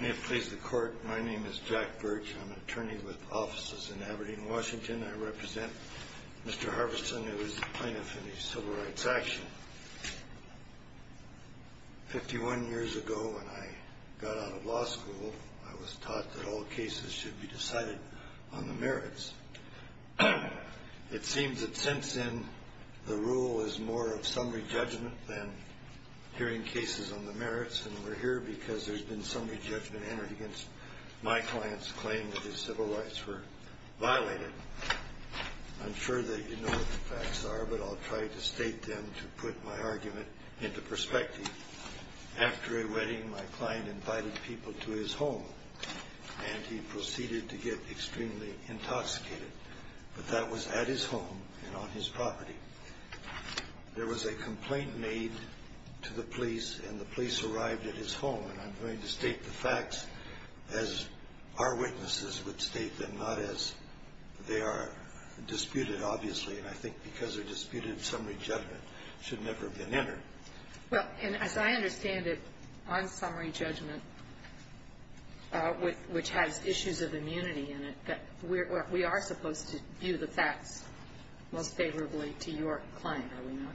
May I please the court? My name is Jack Birch. I'm an attorney with offices in Aberdeen, Washington. I represent Mr. Harveston, who is a plaintiff in a civil rights action. Fifty-one years ago, when I got out of law school, I was taught that all cases should be decided on the merits. It seems that since then, the rule is more of summary judgment than hearing cases on the merits, and we're here because there's been summary judgment entered against my client's claim that his civil rights were violated. I'm sure that you know what the facts are, but I'll try to state them to put my argument into perspective. After a wedding, my client invited people to his home, and he proceeded to get extremely intoxicated, but that was at his home and on his property. There was a complaint made to the police, and the police arrived at his home, and I'm going to state the facts as our witnesses would state them, not as they are disputed, obviously, and I think because they're disputed, summary judgment should never have been entered. Well, and as I understand it, on summary judgment, which has issues of immunity in it, we are supposed to view the facts most favorably to your client, are we not?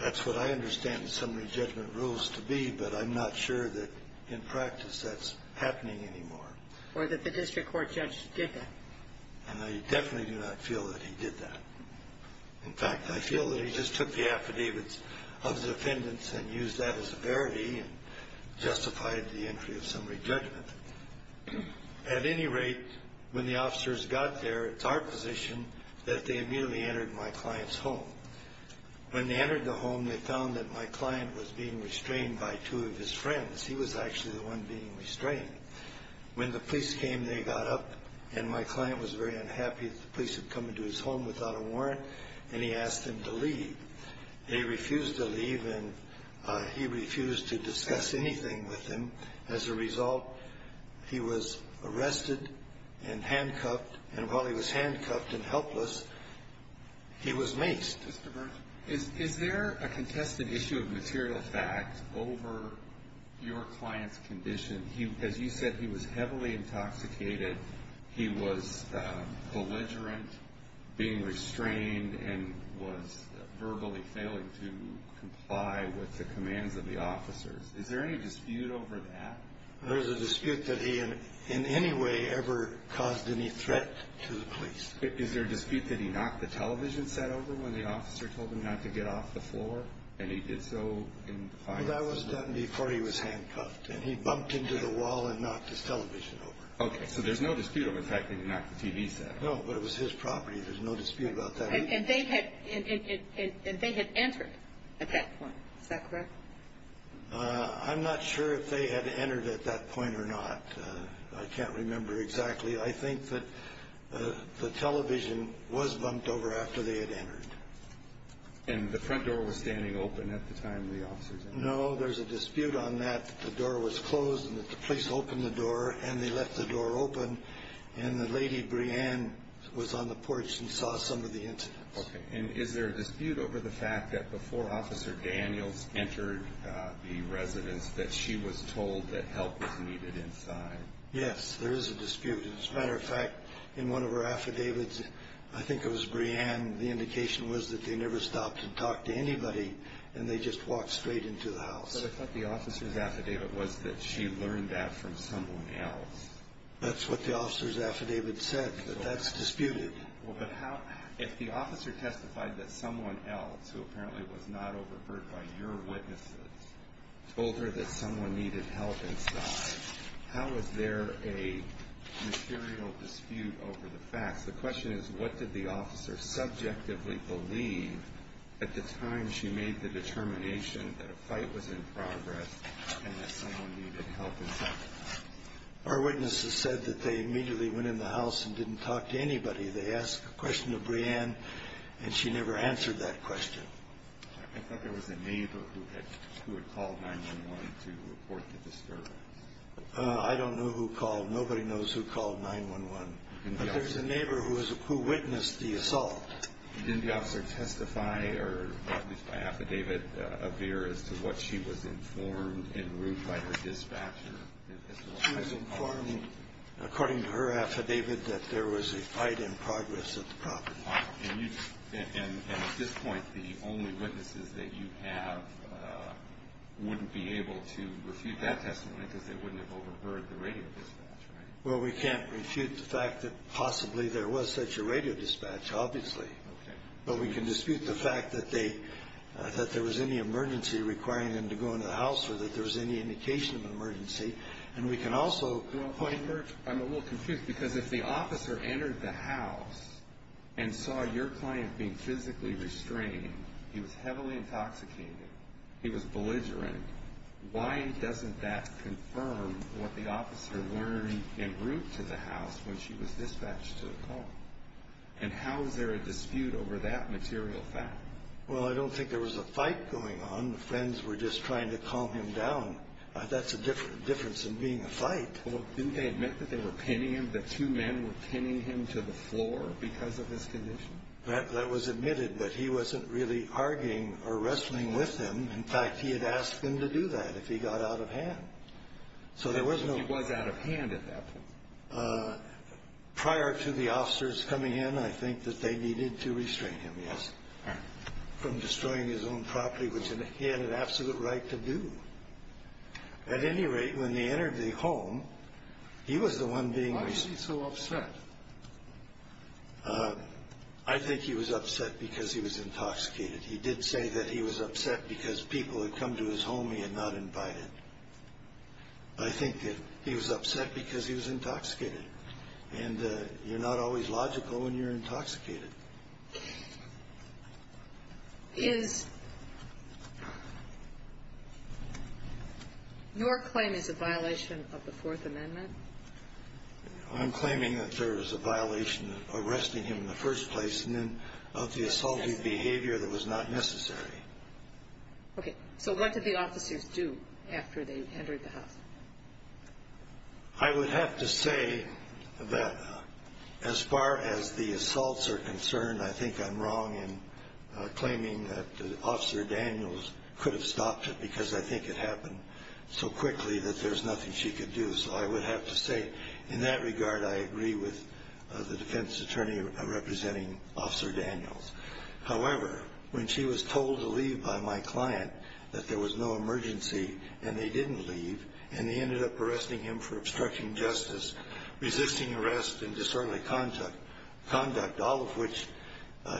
That's what I understand the summary judgment rules to be, but I'm not sure that in practice that's happening anymore. Or that the district court judge did that. And I definitely do not feel that he did that. In fact, I feel that he just took the affidavits of the defendants and used that as a verity and justified the entry of summary judgment. At any rate, when the officers got there, it's our position that they immediately entered my client's home. When they entered the home, they found that my client was being restrained by two of his friends. He was actually the one being restrained. When the police came, they got up, and my client was very unhappy that the police had come into his home without a warrant, and he asked them to leave. They refused to leave, and he refused to discuss anything with them. As a result, he was arrested and handcuffed, and while he was handcuffed and helpless, he was maced. Is there a contested issue of material fact over your client's condition? As you said, he was heavily intoxicated. He was belligerent, being restrained, and was verbally failing to comply with the commands of the officers. Is there any dispute over that? There is a dispute that he in any way ever caused any threat to the police. Is there a dispute that he knocked the television set over when the officer told him not to get off the floor, and he did so? That was done before he was handcuffed, and he bumped into the wall and knocked his television over. Okay, so there's no dispute over the fact that he knocked the TV set over. No, but it was his property. There's no dispute about that. And they had entered at that point. Is that correct? I'm not sure if they had entered at that point or not. I can't remember exactly. I think that the television was bumped over after they had entered. And the front door was standing open at the time the officers entered? No, there's a dispute on that, that the door was closed and that the police opened the door, and they left the door open, and that Lady Brianne was on the porch and saw some of the incidents. Okay, and is there a dispute over the fact that before Officer Daniels entered the residence that she was told that help was needed inside? Yes, there is a dispute. As a matter of fact, in one of her affidavits, I think it was Brianne, the indication was that they never stopped to talk to anybody, and they just walked straight into the house. But I thought the officer's affidavit was that she learned that from someone else. That's what the officer's affidavit said, that that's disputed. Well, but if the officer testified that someone else, who apparently was not overheard by your witnesses, told her that someone needed help inside, how is there a material dispute over the facts? The question is, what did the officer subjectively believe at the time she made the determination that a fight was in progress and that someone needed help inside? Our witnesses said that they immediately went in the house and didn't talk to anybody. They asked a question of Brianne, and she never answered that question. I thought there was a neighbor who had called 911 to report the disturbance. I don't know who called. Nobody knows who called 911. But there was a neighbor who witnessed the assault. Didn't the officer testify, or at least by affidavit, appear as to what she was informed en route by her dispatcher? She was informed, according to her affidavit, that there was a fight in progress at the property. And at this point, the only witnesses that you have wouldn't be able to refute that testimony because they wouldn't have overheard the radio dispatch, right? Well, we can't refute the fact that possibly there was such a radio dispatch, obviously. But we can dispute the fact that there was any emergency requiring them to go into the house I'm a little confused because if the officer entered the house and saw your client being physically restrained, he was heavily intoxicated, he was belligerent, why doesn't that confirm what the officer learned en route to the house when she was dispatched to the call? And how is there a dispute over that material fact? Well, I don't think there was a fight going on. The friends were just trying to calm him down. That's the difference in being a fight. Well, didn't they admit that they were pinning him, that two men were pinning him to the floor because of his condition? That was admitted, but he wasn't really arguing or wrestling with them. In fact, he had asked them to do that if he got out of hand. So there was no... He was out of hand at that point. Prior to the officers coming in, I think that they needed to restrain him, yes, from destroying his own property, which he had an absolute right to do. At any rate, when they entered the home, he was the one being... Why was he so upset? I think he was upset because he was intoxicated. He did say that he was upset because people had come to his home he had not invited. I think that he was upset because he was intoxicated. And you're not always logical when you're intoxicated. Is your claim is a violation of the Fourth Amendment? I'm claiming that there is a violation of arresting him in the first place and then of the assaultive behavior that was not necessary. Okay. So what did the officers do after they entered the house? I would have to say that as far as the assaults are concerned, I think I'm wrong in claiming that Officer Daniels could have stopped it because I think it happened so quickly that there's nothing she could do. So I would have to say, in that regard, I agree with the defense attorney representing Officer Daniels. However, when she was told to leave by my client that there was no emergency and they didn't leave and they ended up arresting him for obstruction of justice, resisting arrest, and disorderly conduct, all of which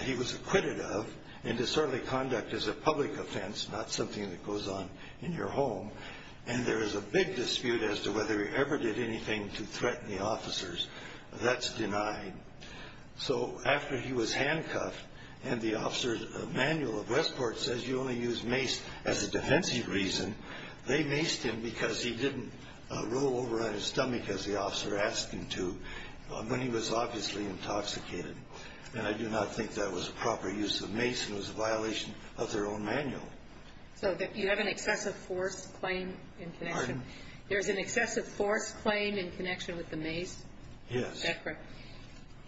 he was acquitted of. And disorderly conduct is a public offense, not something that goes on in your home. And there is a big dispute as to whether he ever did anything to threaten the officers. That's denied. So after he was handcuffed and the officer's manual of Westport says you only use mace as a defensive reason, they maced him because he didn't roll over on his stomach as the officer asked him to when he was obviously intoxicated. And I do not think that was a proper use of mace. It was a violation of their own manual. So you have an excessive force claim in connection? Pardon? There's an excessive force claim in connection with the mace? Yes. Is that correct?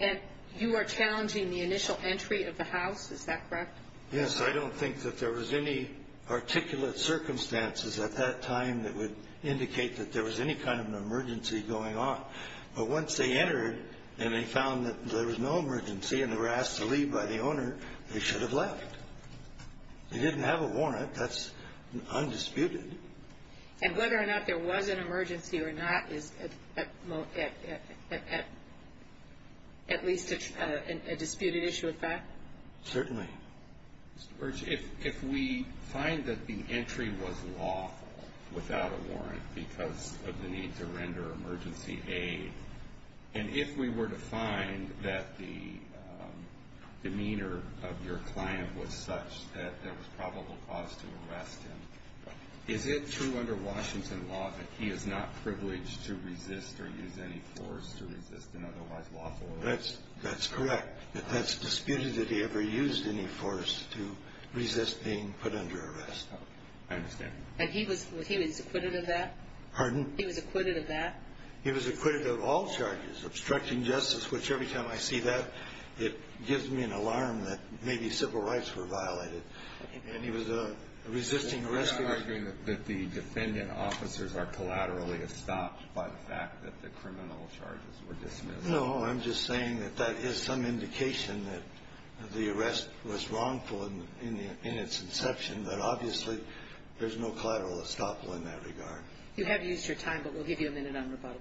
And you are challenging the initial entry of the house, is that correct? Yes. I don't think that there was any articulate circumstances at that time that would indicate that there was any kind of an emergency going on. But once they entered and they found that there was no emergency and they were asked to leave by the owner, they should have left. They didn't have a warrant. That's undisputed. And whether or not there was an emergency or not is at least a disputed issue of fact? Certainly. Mr. Burch, if we find that the entry was lawful without a warrant because of the need to render emergency aid, and if we were to find that the demeanor of your client was such that there was probable cause to arrest him, is it true under Washington law that he is not privileged to resist or use any force to resist an otherwise lawful arrest? That's correct. That's disputed that he ever used any force to resist being put under arrest. I understand. And he was acquitted of that? Pardon? He was acquitted of that? He was acquitted of all charges, obstructing justice, which every time I see that it gives me an alarm that maybe civil rights were violated. And he was a resisting arrest. You're not arguing that the defendant officers are collaterally estopped by the fact that the criminal charges were dismissed? No, I'm just saying that that is some indication that the arrest was wrongful in its inception, but obviously there's no collateral estoppel in that regard. You have used your time, but we'll give you a minute on rebuttal.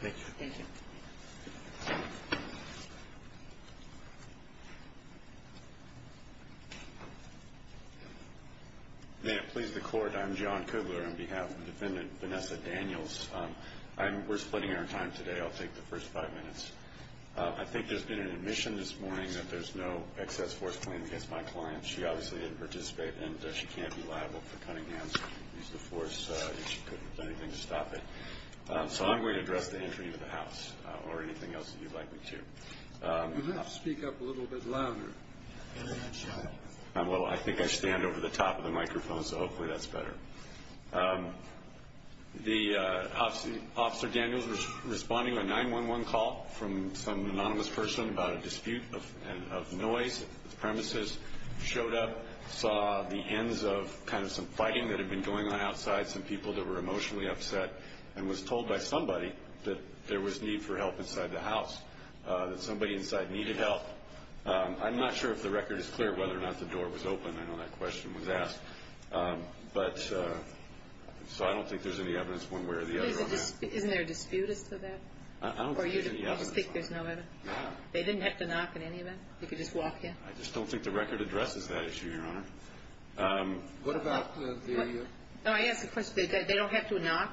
Thank you. Thank you. May it please the Court, I'm John Kubler on behalf of Defendant Vanessa Daniels. We're splitting our time today. I'll take the first five minutes. I think there's been an admission this morning that there's no excess force claimed against my client. She obviously didn't participate, and she can't be liable for cutting hands. She used the force. She couldn't have done anything to stop it. So I'm going to address the entry into the house or anything else that you'd like me to. Would you like to speak up a little bit louder? Well, I think I stand over the top of the microphone, so hopefully that's better. Officer Daniels was responding to a 911 call from some anonymous person about a dispute of noise. The premises showed up, saw the ends of kind of some fighting that had been going on outside, some people that were emotionally upset, and was told by somebody that there was need for help inside the house, that somebody inside needed help. I'm not sure if the record is clear whether or not the door was open. I know that question was asked. But so I don't think there's any evidence one way or the other on that. Isn't there a dispute as to that? I don't think there's any evidence. Or you just think there's no evidence? No. They didn't have to knock in any event? They could just walk in? I just don't think the record addresses that issue, Your Honor. What about the? No, I asked the question. They don't have to knock?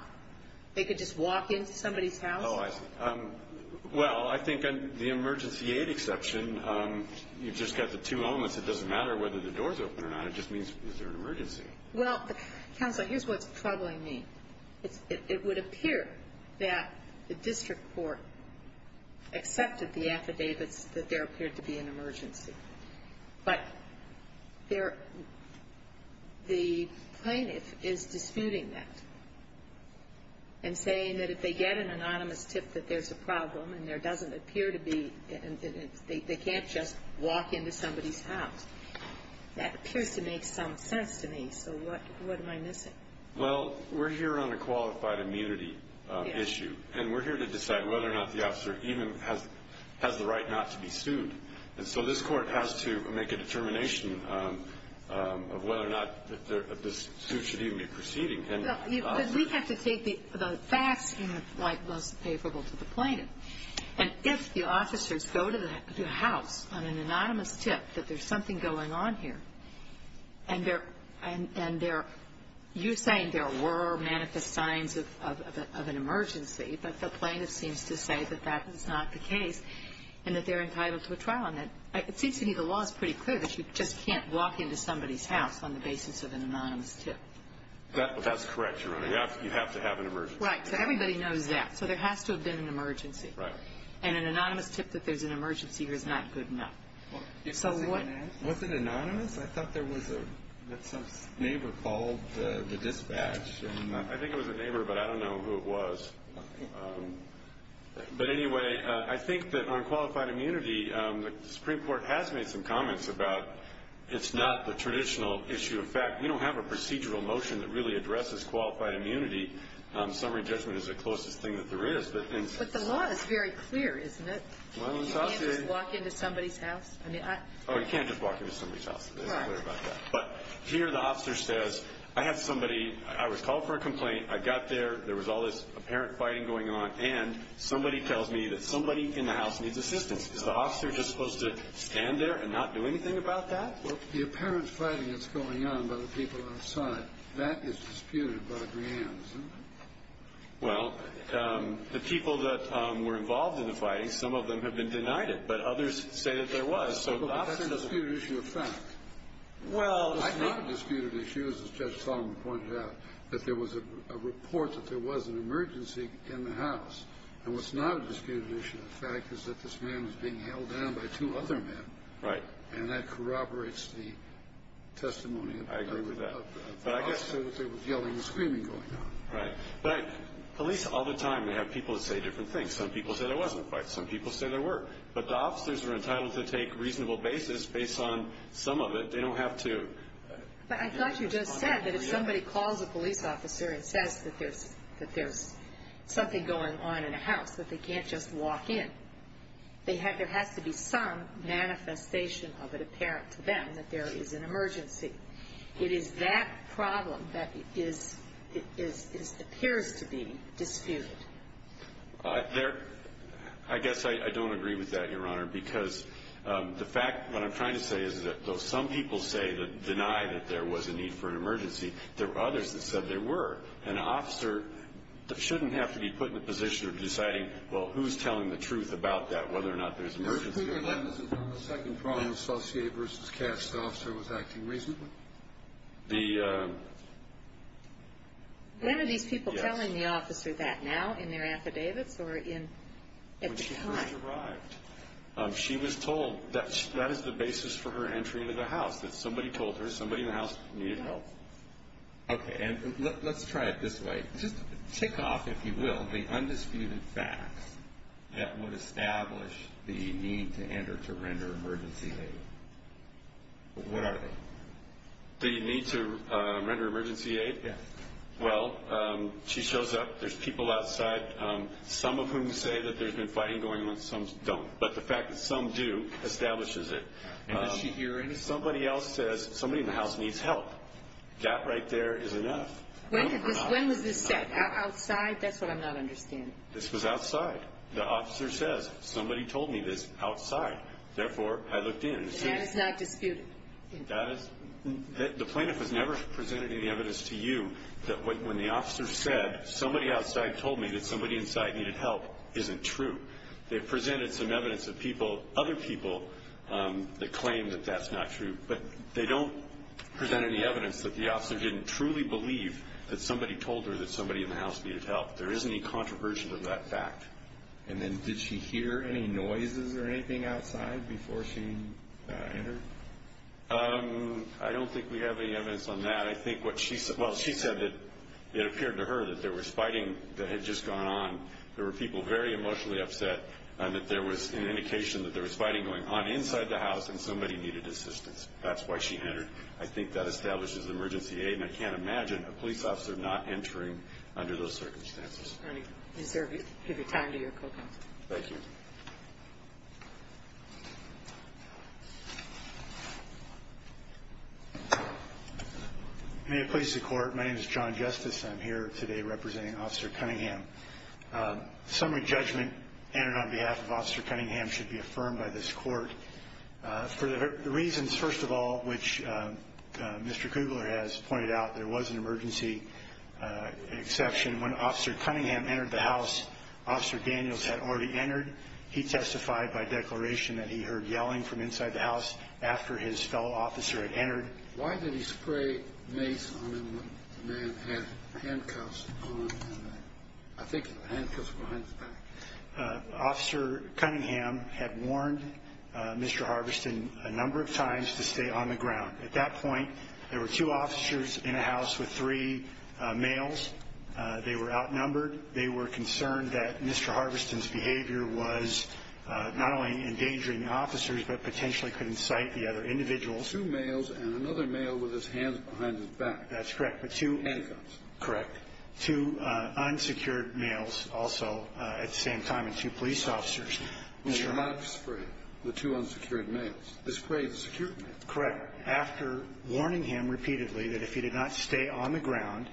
They could just walk into somebody's house? Oh, I see. Well, I think the emergency aid exception, you've just got the two elements. It doesn't matter whether the door's open or not. It just means is there an emergency? Well, counsel, here's what's troubling me. It would appear that the district court accepted the affidavits that there appeared to be an emergency. But the plaintiff is disputing that and saying that if they get an anonymous tip that there's a problem and there doesn't appear to be, they can't just walk into somebody's house. That appears to make some sense to me. So what am I missing? Well, we're here on a qualified immunity issue. And we're here to decide whether or not the officer even has the right not to be sued. And so this court has to make a determination of whether or not this suit should even be proceeding. Because we have to take the facts in the light most favorable to the plaintiff. And if the officers go to the house on an anonymous tip that there's something going on here and you're saying there were manifest signs of an emergency, but the plaintiff seems to say that that is not the case and that they're entitled to a trial, it seems to me the law is pretty clear that you just can't walk into somebody's house on the basis of an anonymous tip. That's correct, Your Honor. You have to have an emergency. Right. So everybody knows that. So there has to have been an emergency. Right. And an anonymous tip that there's an emergency here is not good enough. Was it anonymous? I thought there was some neighbor called the dispatch. I think it was a neighbor, but I don't know who it was. But anyway, I think that on qualified immunity, the Supreme Court has made some comments about it's not the traditional issue of fact. We don't have a procedural motion that really addresses qualified immunity. Summary judgment is the closest thing that there is. But the law is very clear, isn't it? Well, it sounds good. You can't just walk into somebody's house. Oh, you can't just walk into somebody's house. It's clear about that. But here the officer says, I have somebody, I was called for a complaint, I got there, there was all this apparent fighting going on, and somebody tells me that somebody in the house needs assistance. Is the officer just supposed to stand there and not do anything about that? Well, the apparent fighting that's going on by the people outside, that is disputed by the grand, isn't it? Well, the people that were involved in the fighting, some of them have been denied it. But others say that there was. But that's a disputed issue of fact. Well, it's not a disputed issue, as Judge Solomon pointed out, that there was a report that there was an emergency in the house. And what's not a disputed issue of fact is that this man is being held down by two other men. Right. And that corroborates the testimony of the officer that there was yelling and screaming going on. Right. But police all the time, they have people that say different things. Some people say there wasn't a fight. Some people say there were. But the officers are entitled to take reasonable basis based on some of it. They don't have to. But I thought you just said that if somebody calls a police officer and says that there's something going on in a house, that they can't just walk in. There has to be some manifestation of it apparent to them that there is an emergency. It is that problem that appears to be disputed. I guess I don't agree with that, Your Honor, because the fact, what I'm trying to say, is that though some people say that deny that there was a need for an emergency, there were others that said there were. So an officer shouldn't have to be put in a position of deciding, well, who's telling the truth about that, whether or not there's an emergency or not. Mr. Kruger, let us inform the second problem. Associate versus cast officer was acting reasonably. When are these people telling the officer that now, in their affidavits or at the time? When she first arrived. She was told that that is the basis for her entry into the house, that somebody told her somebody in the house needed help. Okay, and let's try it this way. Just tick off, if you will, the undisputed facts that would establish the need to enter to render emergency aid. What are they? The need to render emergency aid? Yes. Well, she shows up. There's people outside, some of whom say that there's been fighting going on. Some don't. But the fact that some do establishes it. And does she hear any? Somebody else says somebody in the house needs help. That right there is enough. When was this set? Outside? That's what I'm not understanding. This was outside. The officer says, somebody told me this outside. Therefore, I looked in. That is not disputed. The plaintiff has never presented any evidence to you that when the officer said, somebody outside told me that somebody inside needed help, isn't true. They've presented some evidence of people, other people, that claim that that's not true. But they don't present any evidence that the officer didn't truly believe that somebody told her that somebody in the house needed help. There isn't any controversy of that fact. And then did she hear any noises or anything outside before she entered? I don't think we have any evidence on that. I think what she said, well, she said that it appeared to her that there was fighting that had just gone on, there were people very emotionally upset, and that there was an indication that there was fighting going on inside the house, and somebody needed assistance. That's why she entered. I think that establishes emergency aid, and I can't imagine a police officer not entering under those circumstances. Thank you, sir. Give your time to your co-counsel. Thank you. May it please the Court. My name is John Justice. I'm here today representing Officer Cunningham. Summary judgment entered on behalf of Officer Cunningham should be affirmed by this Court. For the reasons, first of all, which Mr. Kugler has pointed out, there was an emergency exception. When Officer Cunningham entered the house, Officer Daniels had already entered. He testified by declaration that he heard yelling from inside the house after his fellow officer had entered. Why did he spray mace on him when the man had handcuffs on him? I think it was handcuffs behind his back. Officer Cunningham had warned Mr. Harveston a number of times to stay on the ground. At that point, there were two officers in the house with three males. They were outnumbered. They were concerned that Mr. Harveston's behavior was not only endangering the officers but potentially could incite the other individuals. Two males and another male with his hands behind his back. That's correct. Handcuffs. Correct. Two unsecured males also at the same time, and two police officers. Mr. Harveston sprayed the two unsecured males. He sprayed the secured males. Correct. After warning him repeatedly that if he did not stay on the ground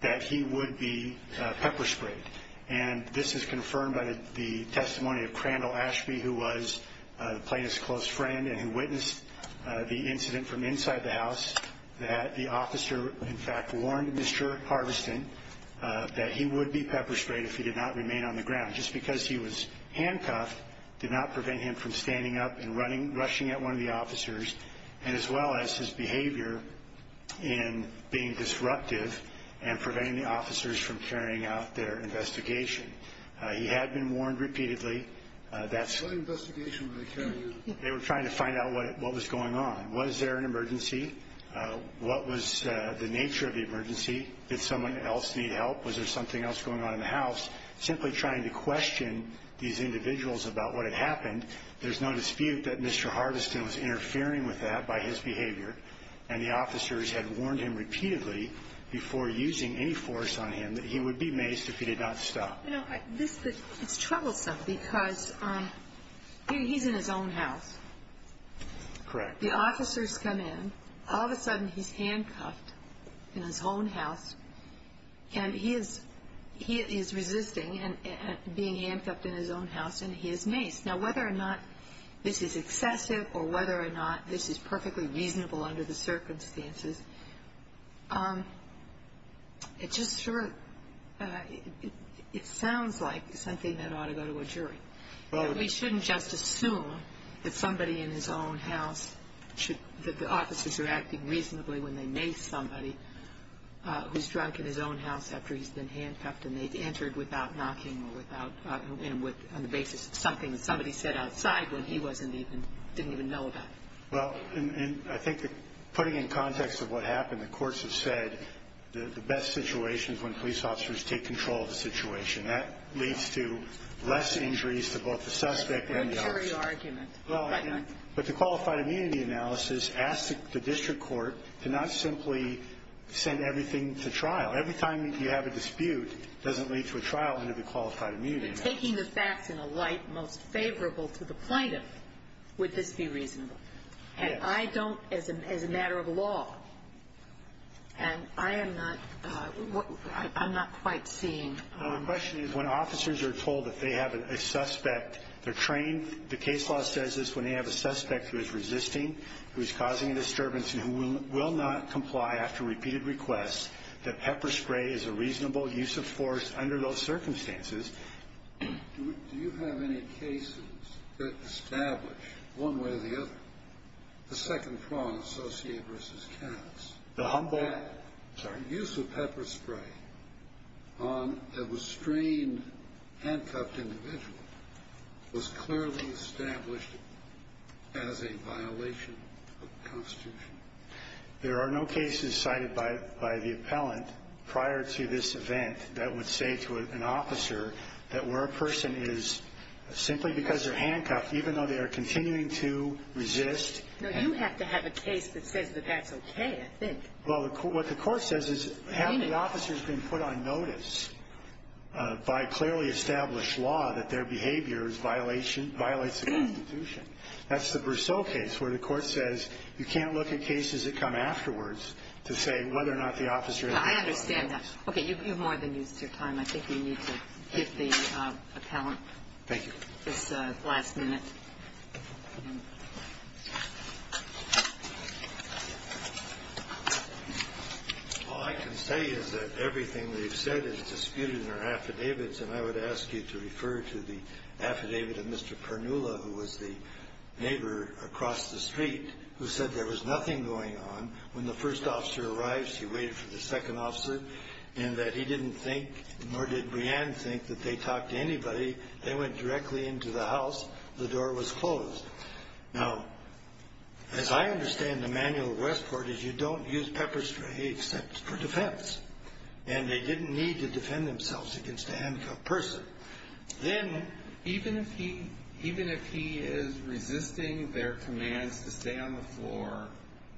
that he would be pepper-sprayed. This is confirmed by the testimony of Crandall Ashby who was the plaintiff's close friend and who witnessed the incident from inside the house that the officer, in fact, warned Mr. Harveston that he would be pepper-sprayed if he did not remain on the ground. Just because he was handcuffed did not prevent him from standing up and rushing at one of the officers and as well as his behavior in being disruptive and preventing the officers from carrying out their investigation. He had been warned repeatedly. What investigation were they carrying out? They were trying to find out what was going on. Was there an emergency? What was the nature of the emergency? Did someone else need help? Was there something else going on in the house? Simply trying to question these individuals about what had happened. There's no dispute that Mr. Harveston was interfering with that by his behavior and the officers had warned him repeatedly before using any force on him that he would be maced if he did not stop. It's troublesome because he's in his own house. Correct. The officers come in, all of a sudden he's handcuffed in his own house and he is resisting being handcuffed in his own house and he is maced. Now, whether or not this is excessive or whether or not this is perfectly reasonable under the circumstances, it just sort of, it sounds like something that ought to go to a jury. We shouldn't just assume that somebody in his own house should, that the officers are acting reasonably when they mace somebody who's drunk in his own house after he's been handcuffed and they've entered without knocking or without, on the basis of something that somebody said outside when he wasn't even, didn't even know about. Well, and I think that putting in context of what happened, the courts have said the best situation is when police officers take control of the situation. That leads to less injuries to both the suspect and the officer. A jury argument. But the qualified immunity analysis asked the district court to not simply send everything to trial. Every time you have a dispute, it doesn't lead to a trial under the qualified immunity analysis. But taking the facts in a light most favorable to the plaintiff, would this be reasonable? Yes. And I don't, as a matter of law, and I am not, I'm not quite seeing. No, the question is when officers are told that they have a suspect, they're trained, the case law says this when they have a suspect who is resisting, who is causing a disturbance and who will not comply after repeated requests, that pepper spray is a reasonable use of force under those circumstances. Do you have any cases that establish, one way or the other, the second prong associated versus counts? The humble, sorry. The use of pepper spray on a restrained, handcuffed individual was clearly established as a violation of the Constitution. There are no cases cited by the appellant prior to this event that would say to an officer that where a person is simply because they're handcuffed, even though they are continuing to resist. No, you have to have a case that says that that's okay, I think. Well, what the court says is have the officers been put on notice by clearly established law that their behavior is violation, violates the Constitution? That's the Brousseau case where the court says you can't look at cases that come afterwards to say whether or not the officer has been put on notice. I understand that. Okay, you've more than used your time. I think we need to get the appellant. Thank you. This last minute. All I can say is that everything they've said is disputed in their affidavits, and I would ask you to refer to the affidavit of Mr. Pernula, who was the neighbor across the street, who said there was nothing going on. When the first officer arrived, she waited for the second officer, and that he didn't think, nor did Breanne think, that they talked to anybody. They went directly into the house. The door was closed. Now, as I understand the manual of Westport is you don't use pepper spray except for defense, and they didn't need to defend themselves against a handcuffed person. Then even if he is resisting their commands to stay on the floor,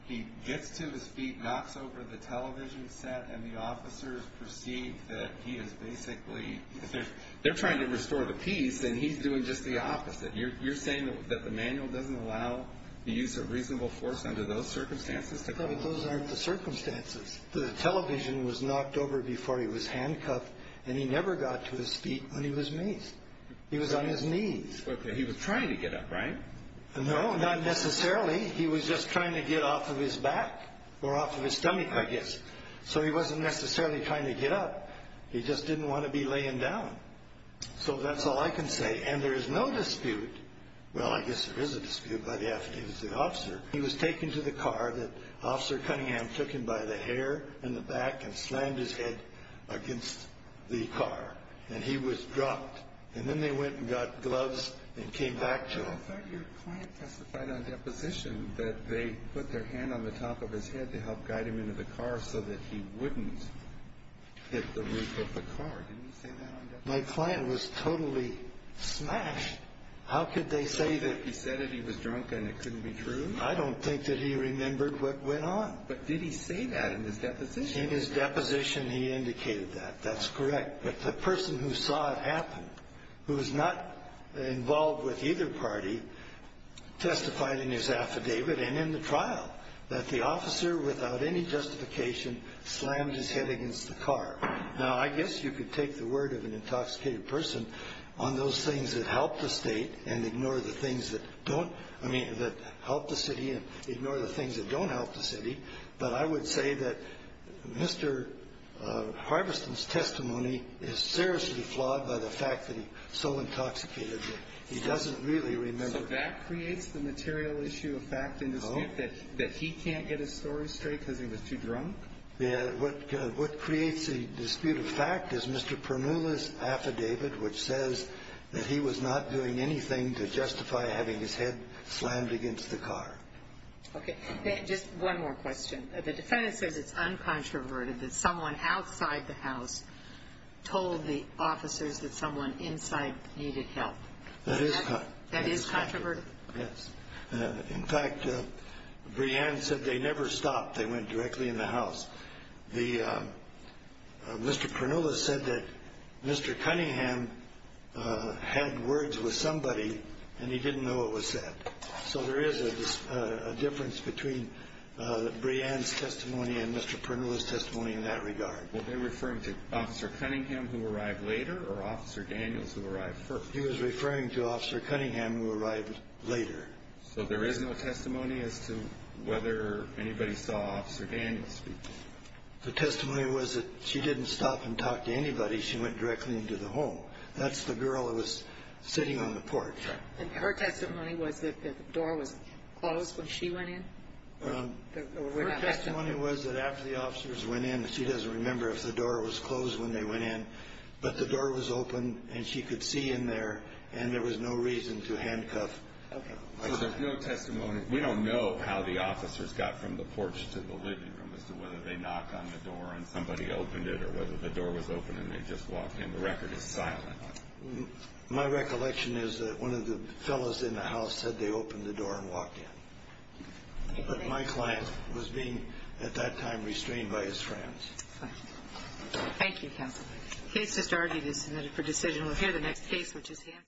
he gets to his feet, knocks over the television set, and the officers perceive that he is basically, they're trying to restore the peace, and he's doing just the opposite. You're saying that the manual doesn't allow the use of reasonable force under those circumstances? Those aren't the circumstances. The television was knocked over before he was handcuffed, and he never got to his feet when he was maced. He was on his knees. Okay, he was trying to get up, right? No, not necessarily. He was just trying to get off of his back or off of his stomach, I guess. So he wasn't necessarily trying to get up. He just didn't want to be laying down. So that's all I can say, and there is no dispute. Well, I guess there is a dispute by the attitude of the officer. He was taken to the car that Officer Cunningham took him by the hair in the back and slammed his head against the car, and he was dropped. Then they went and got gloves and came back to him. I thought your client testified on deposition that they put their hand on the top of his head to help guide him into the car so that he wouldn't hit the roof of the car. Didn't he say that on deposition? My client was totally smashed. How could they say that? He said that he was drunk and it couldn't be true? I don't think that he remembered what went on. But did he say that in his deposition? In his deposition, he indicated that. That's correct. But the person who saw it happen, who was not involved with either party, testified in his affidavit and in the trial that the officer, without any justification, slammed his head against the car. Now, I guess you could take the word of an intoxicated person on those things that help the state and ignore the things that don't, I mean, that help the city and ignore the things that don't help the city, but I would say that Mr. Harveston's testimony is seriously flawed by the fact that he's so intoxicated that he doesn't really remember. So that creates the material issue of fact and dispute that he can't get his story straight because he was too drunk? Yeah. What creates the dispute of fact is Mr. Pernula's affidavit, which says that he was not doing anything to justify having his head slammed against the car. Okay. Just one more question. The defendant says it's uncontroverted that someone outside the house told the officers that someone inside needed help. That is controverted? Yes. In fact, Breanne said they never stopped. They went directly in the house. Mr. Pernula said that Mr. Cunningham had words with somebody and he didn't know it was said. So there is a difference between Breanne's testimony and Mr. Pernula's testimony in that regard. Were they referring to Officer Cunningham, who arrived later, or Officer Daniels, who arrived first? He was referring to Officer Cunningham, who arrived later. So there is no testimony as to whether anybody saw Officer Daniels speak? The testimony was that she didn't stop and talk to anybody. She went directly into the home. That's the girl who was sitting on the porch. And her testimony was that the door was closed when she went in? Her testimony was that after the officers went in, she doesn't remember if the door was closed when they went in, but the door was open and she could see in there and there was no reason to handcuff. Okay. So there's no testimony. We don't know how the officers got from the porch to the living room as to whether they knocked on the door and somebody opened it or whether the door was open and they just walked in. The record is silent. My recollection is that one of the fellows in the house said they opened the door and walked in. But my client was being, at that time, restrained by his friends. Thank you, counsel. The case just argued is submitted for decision. We'll hear the next case, which is Hanson.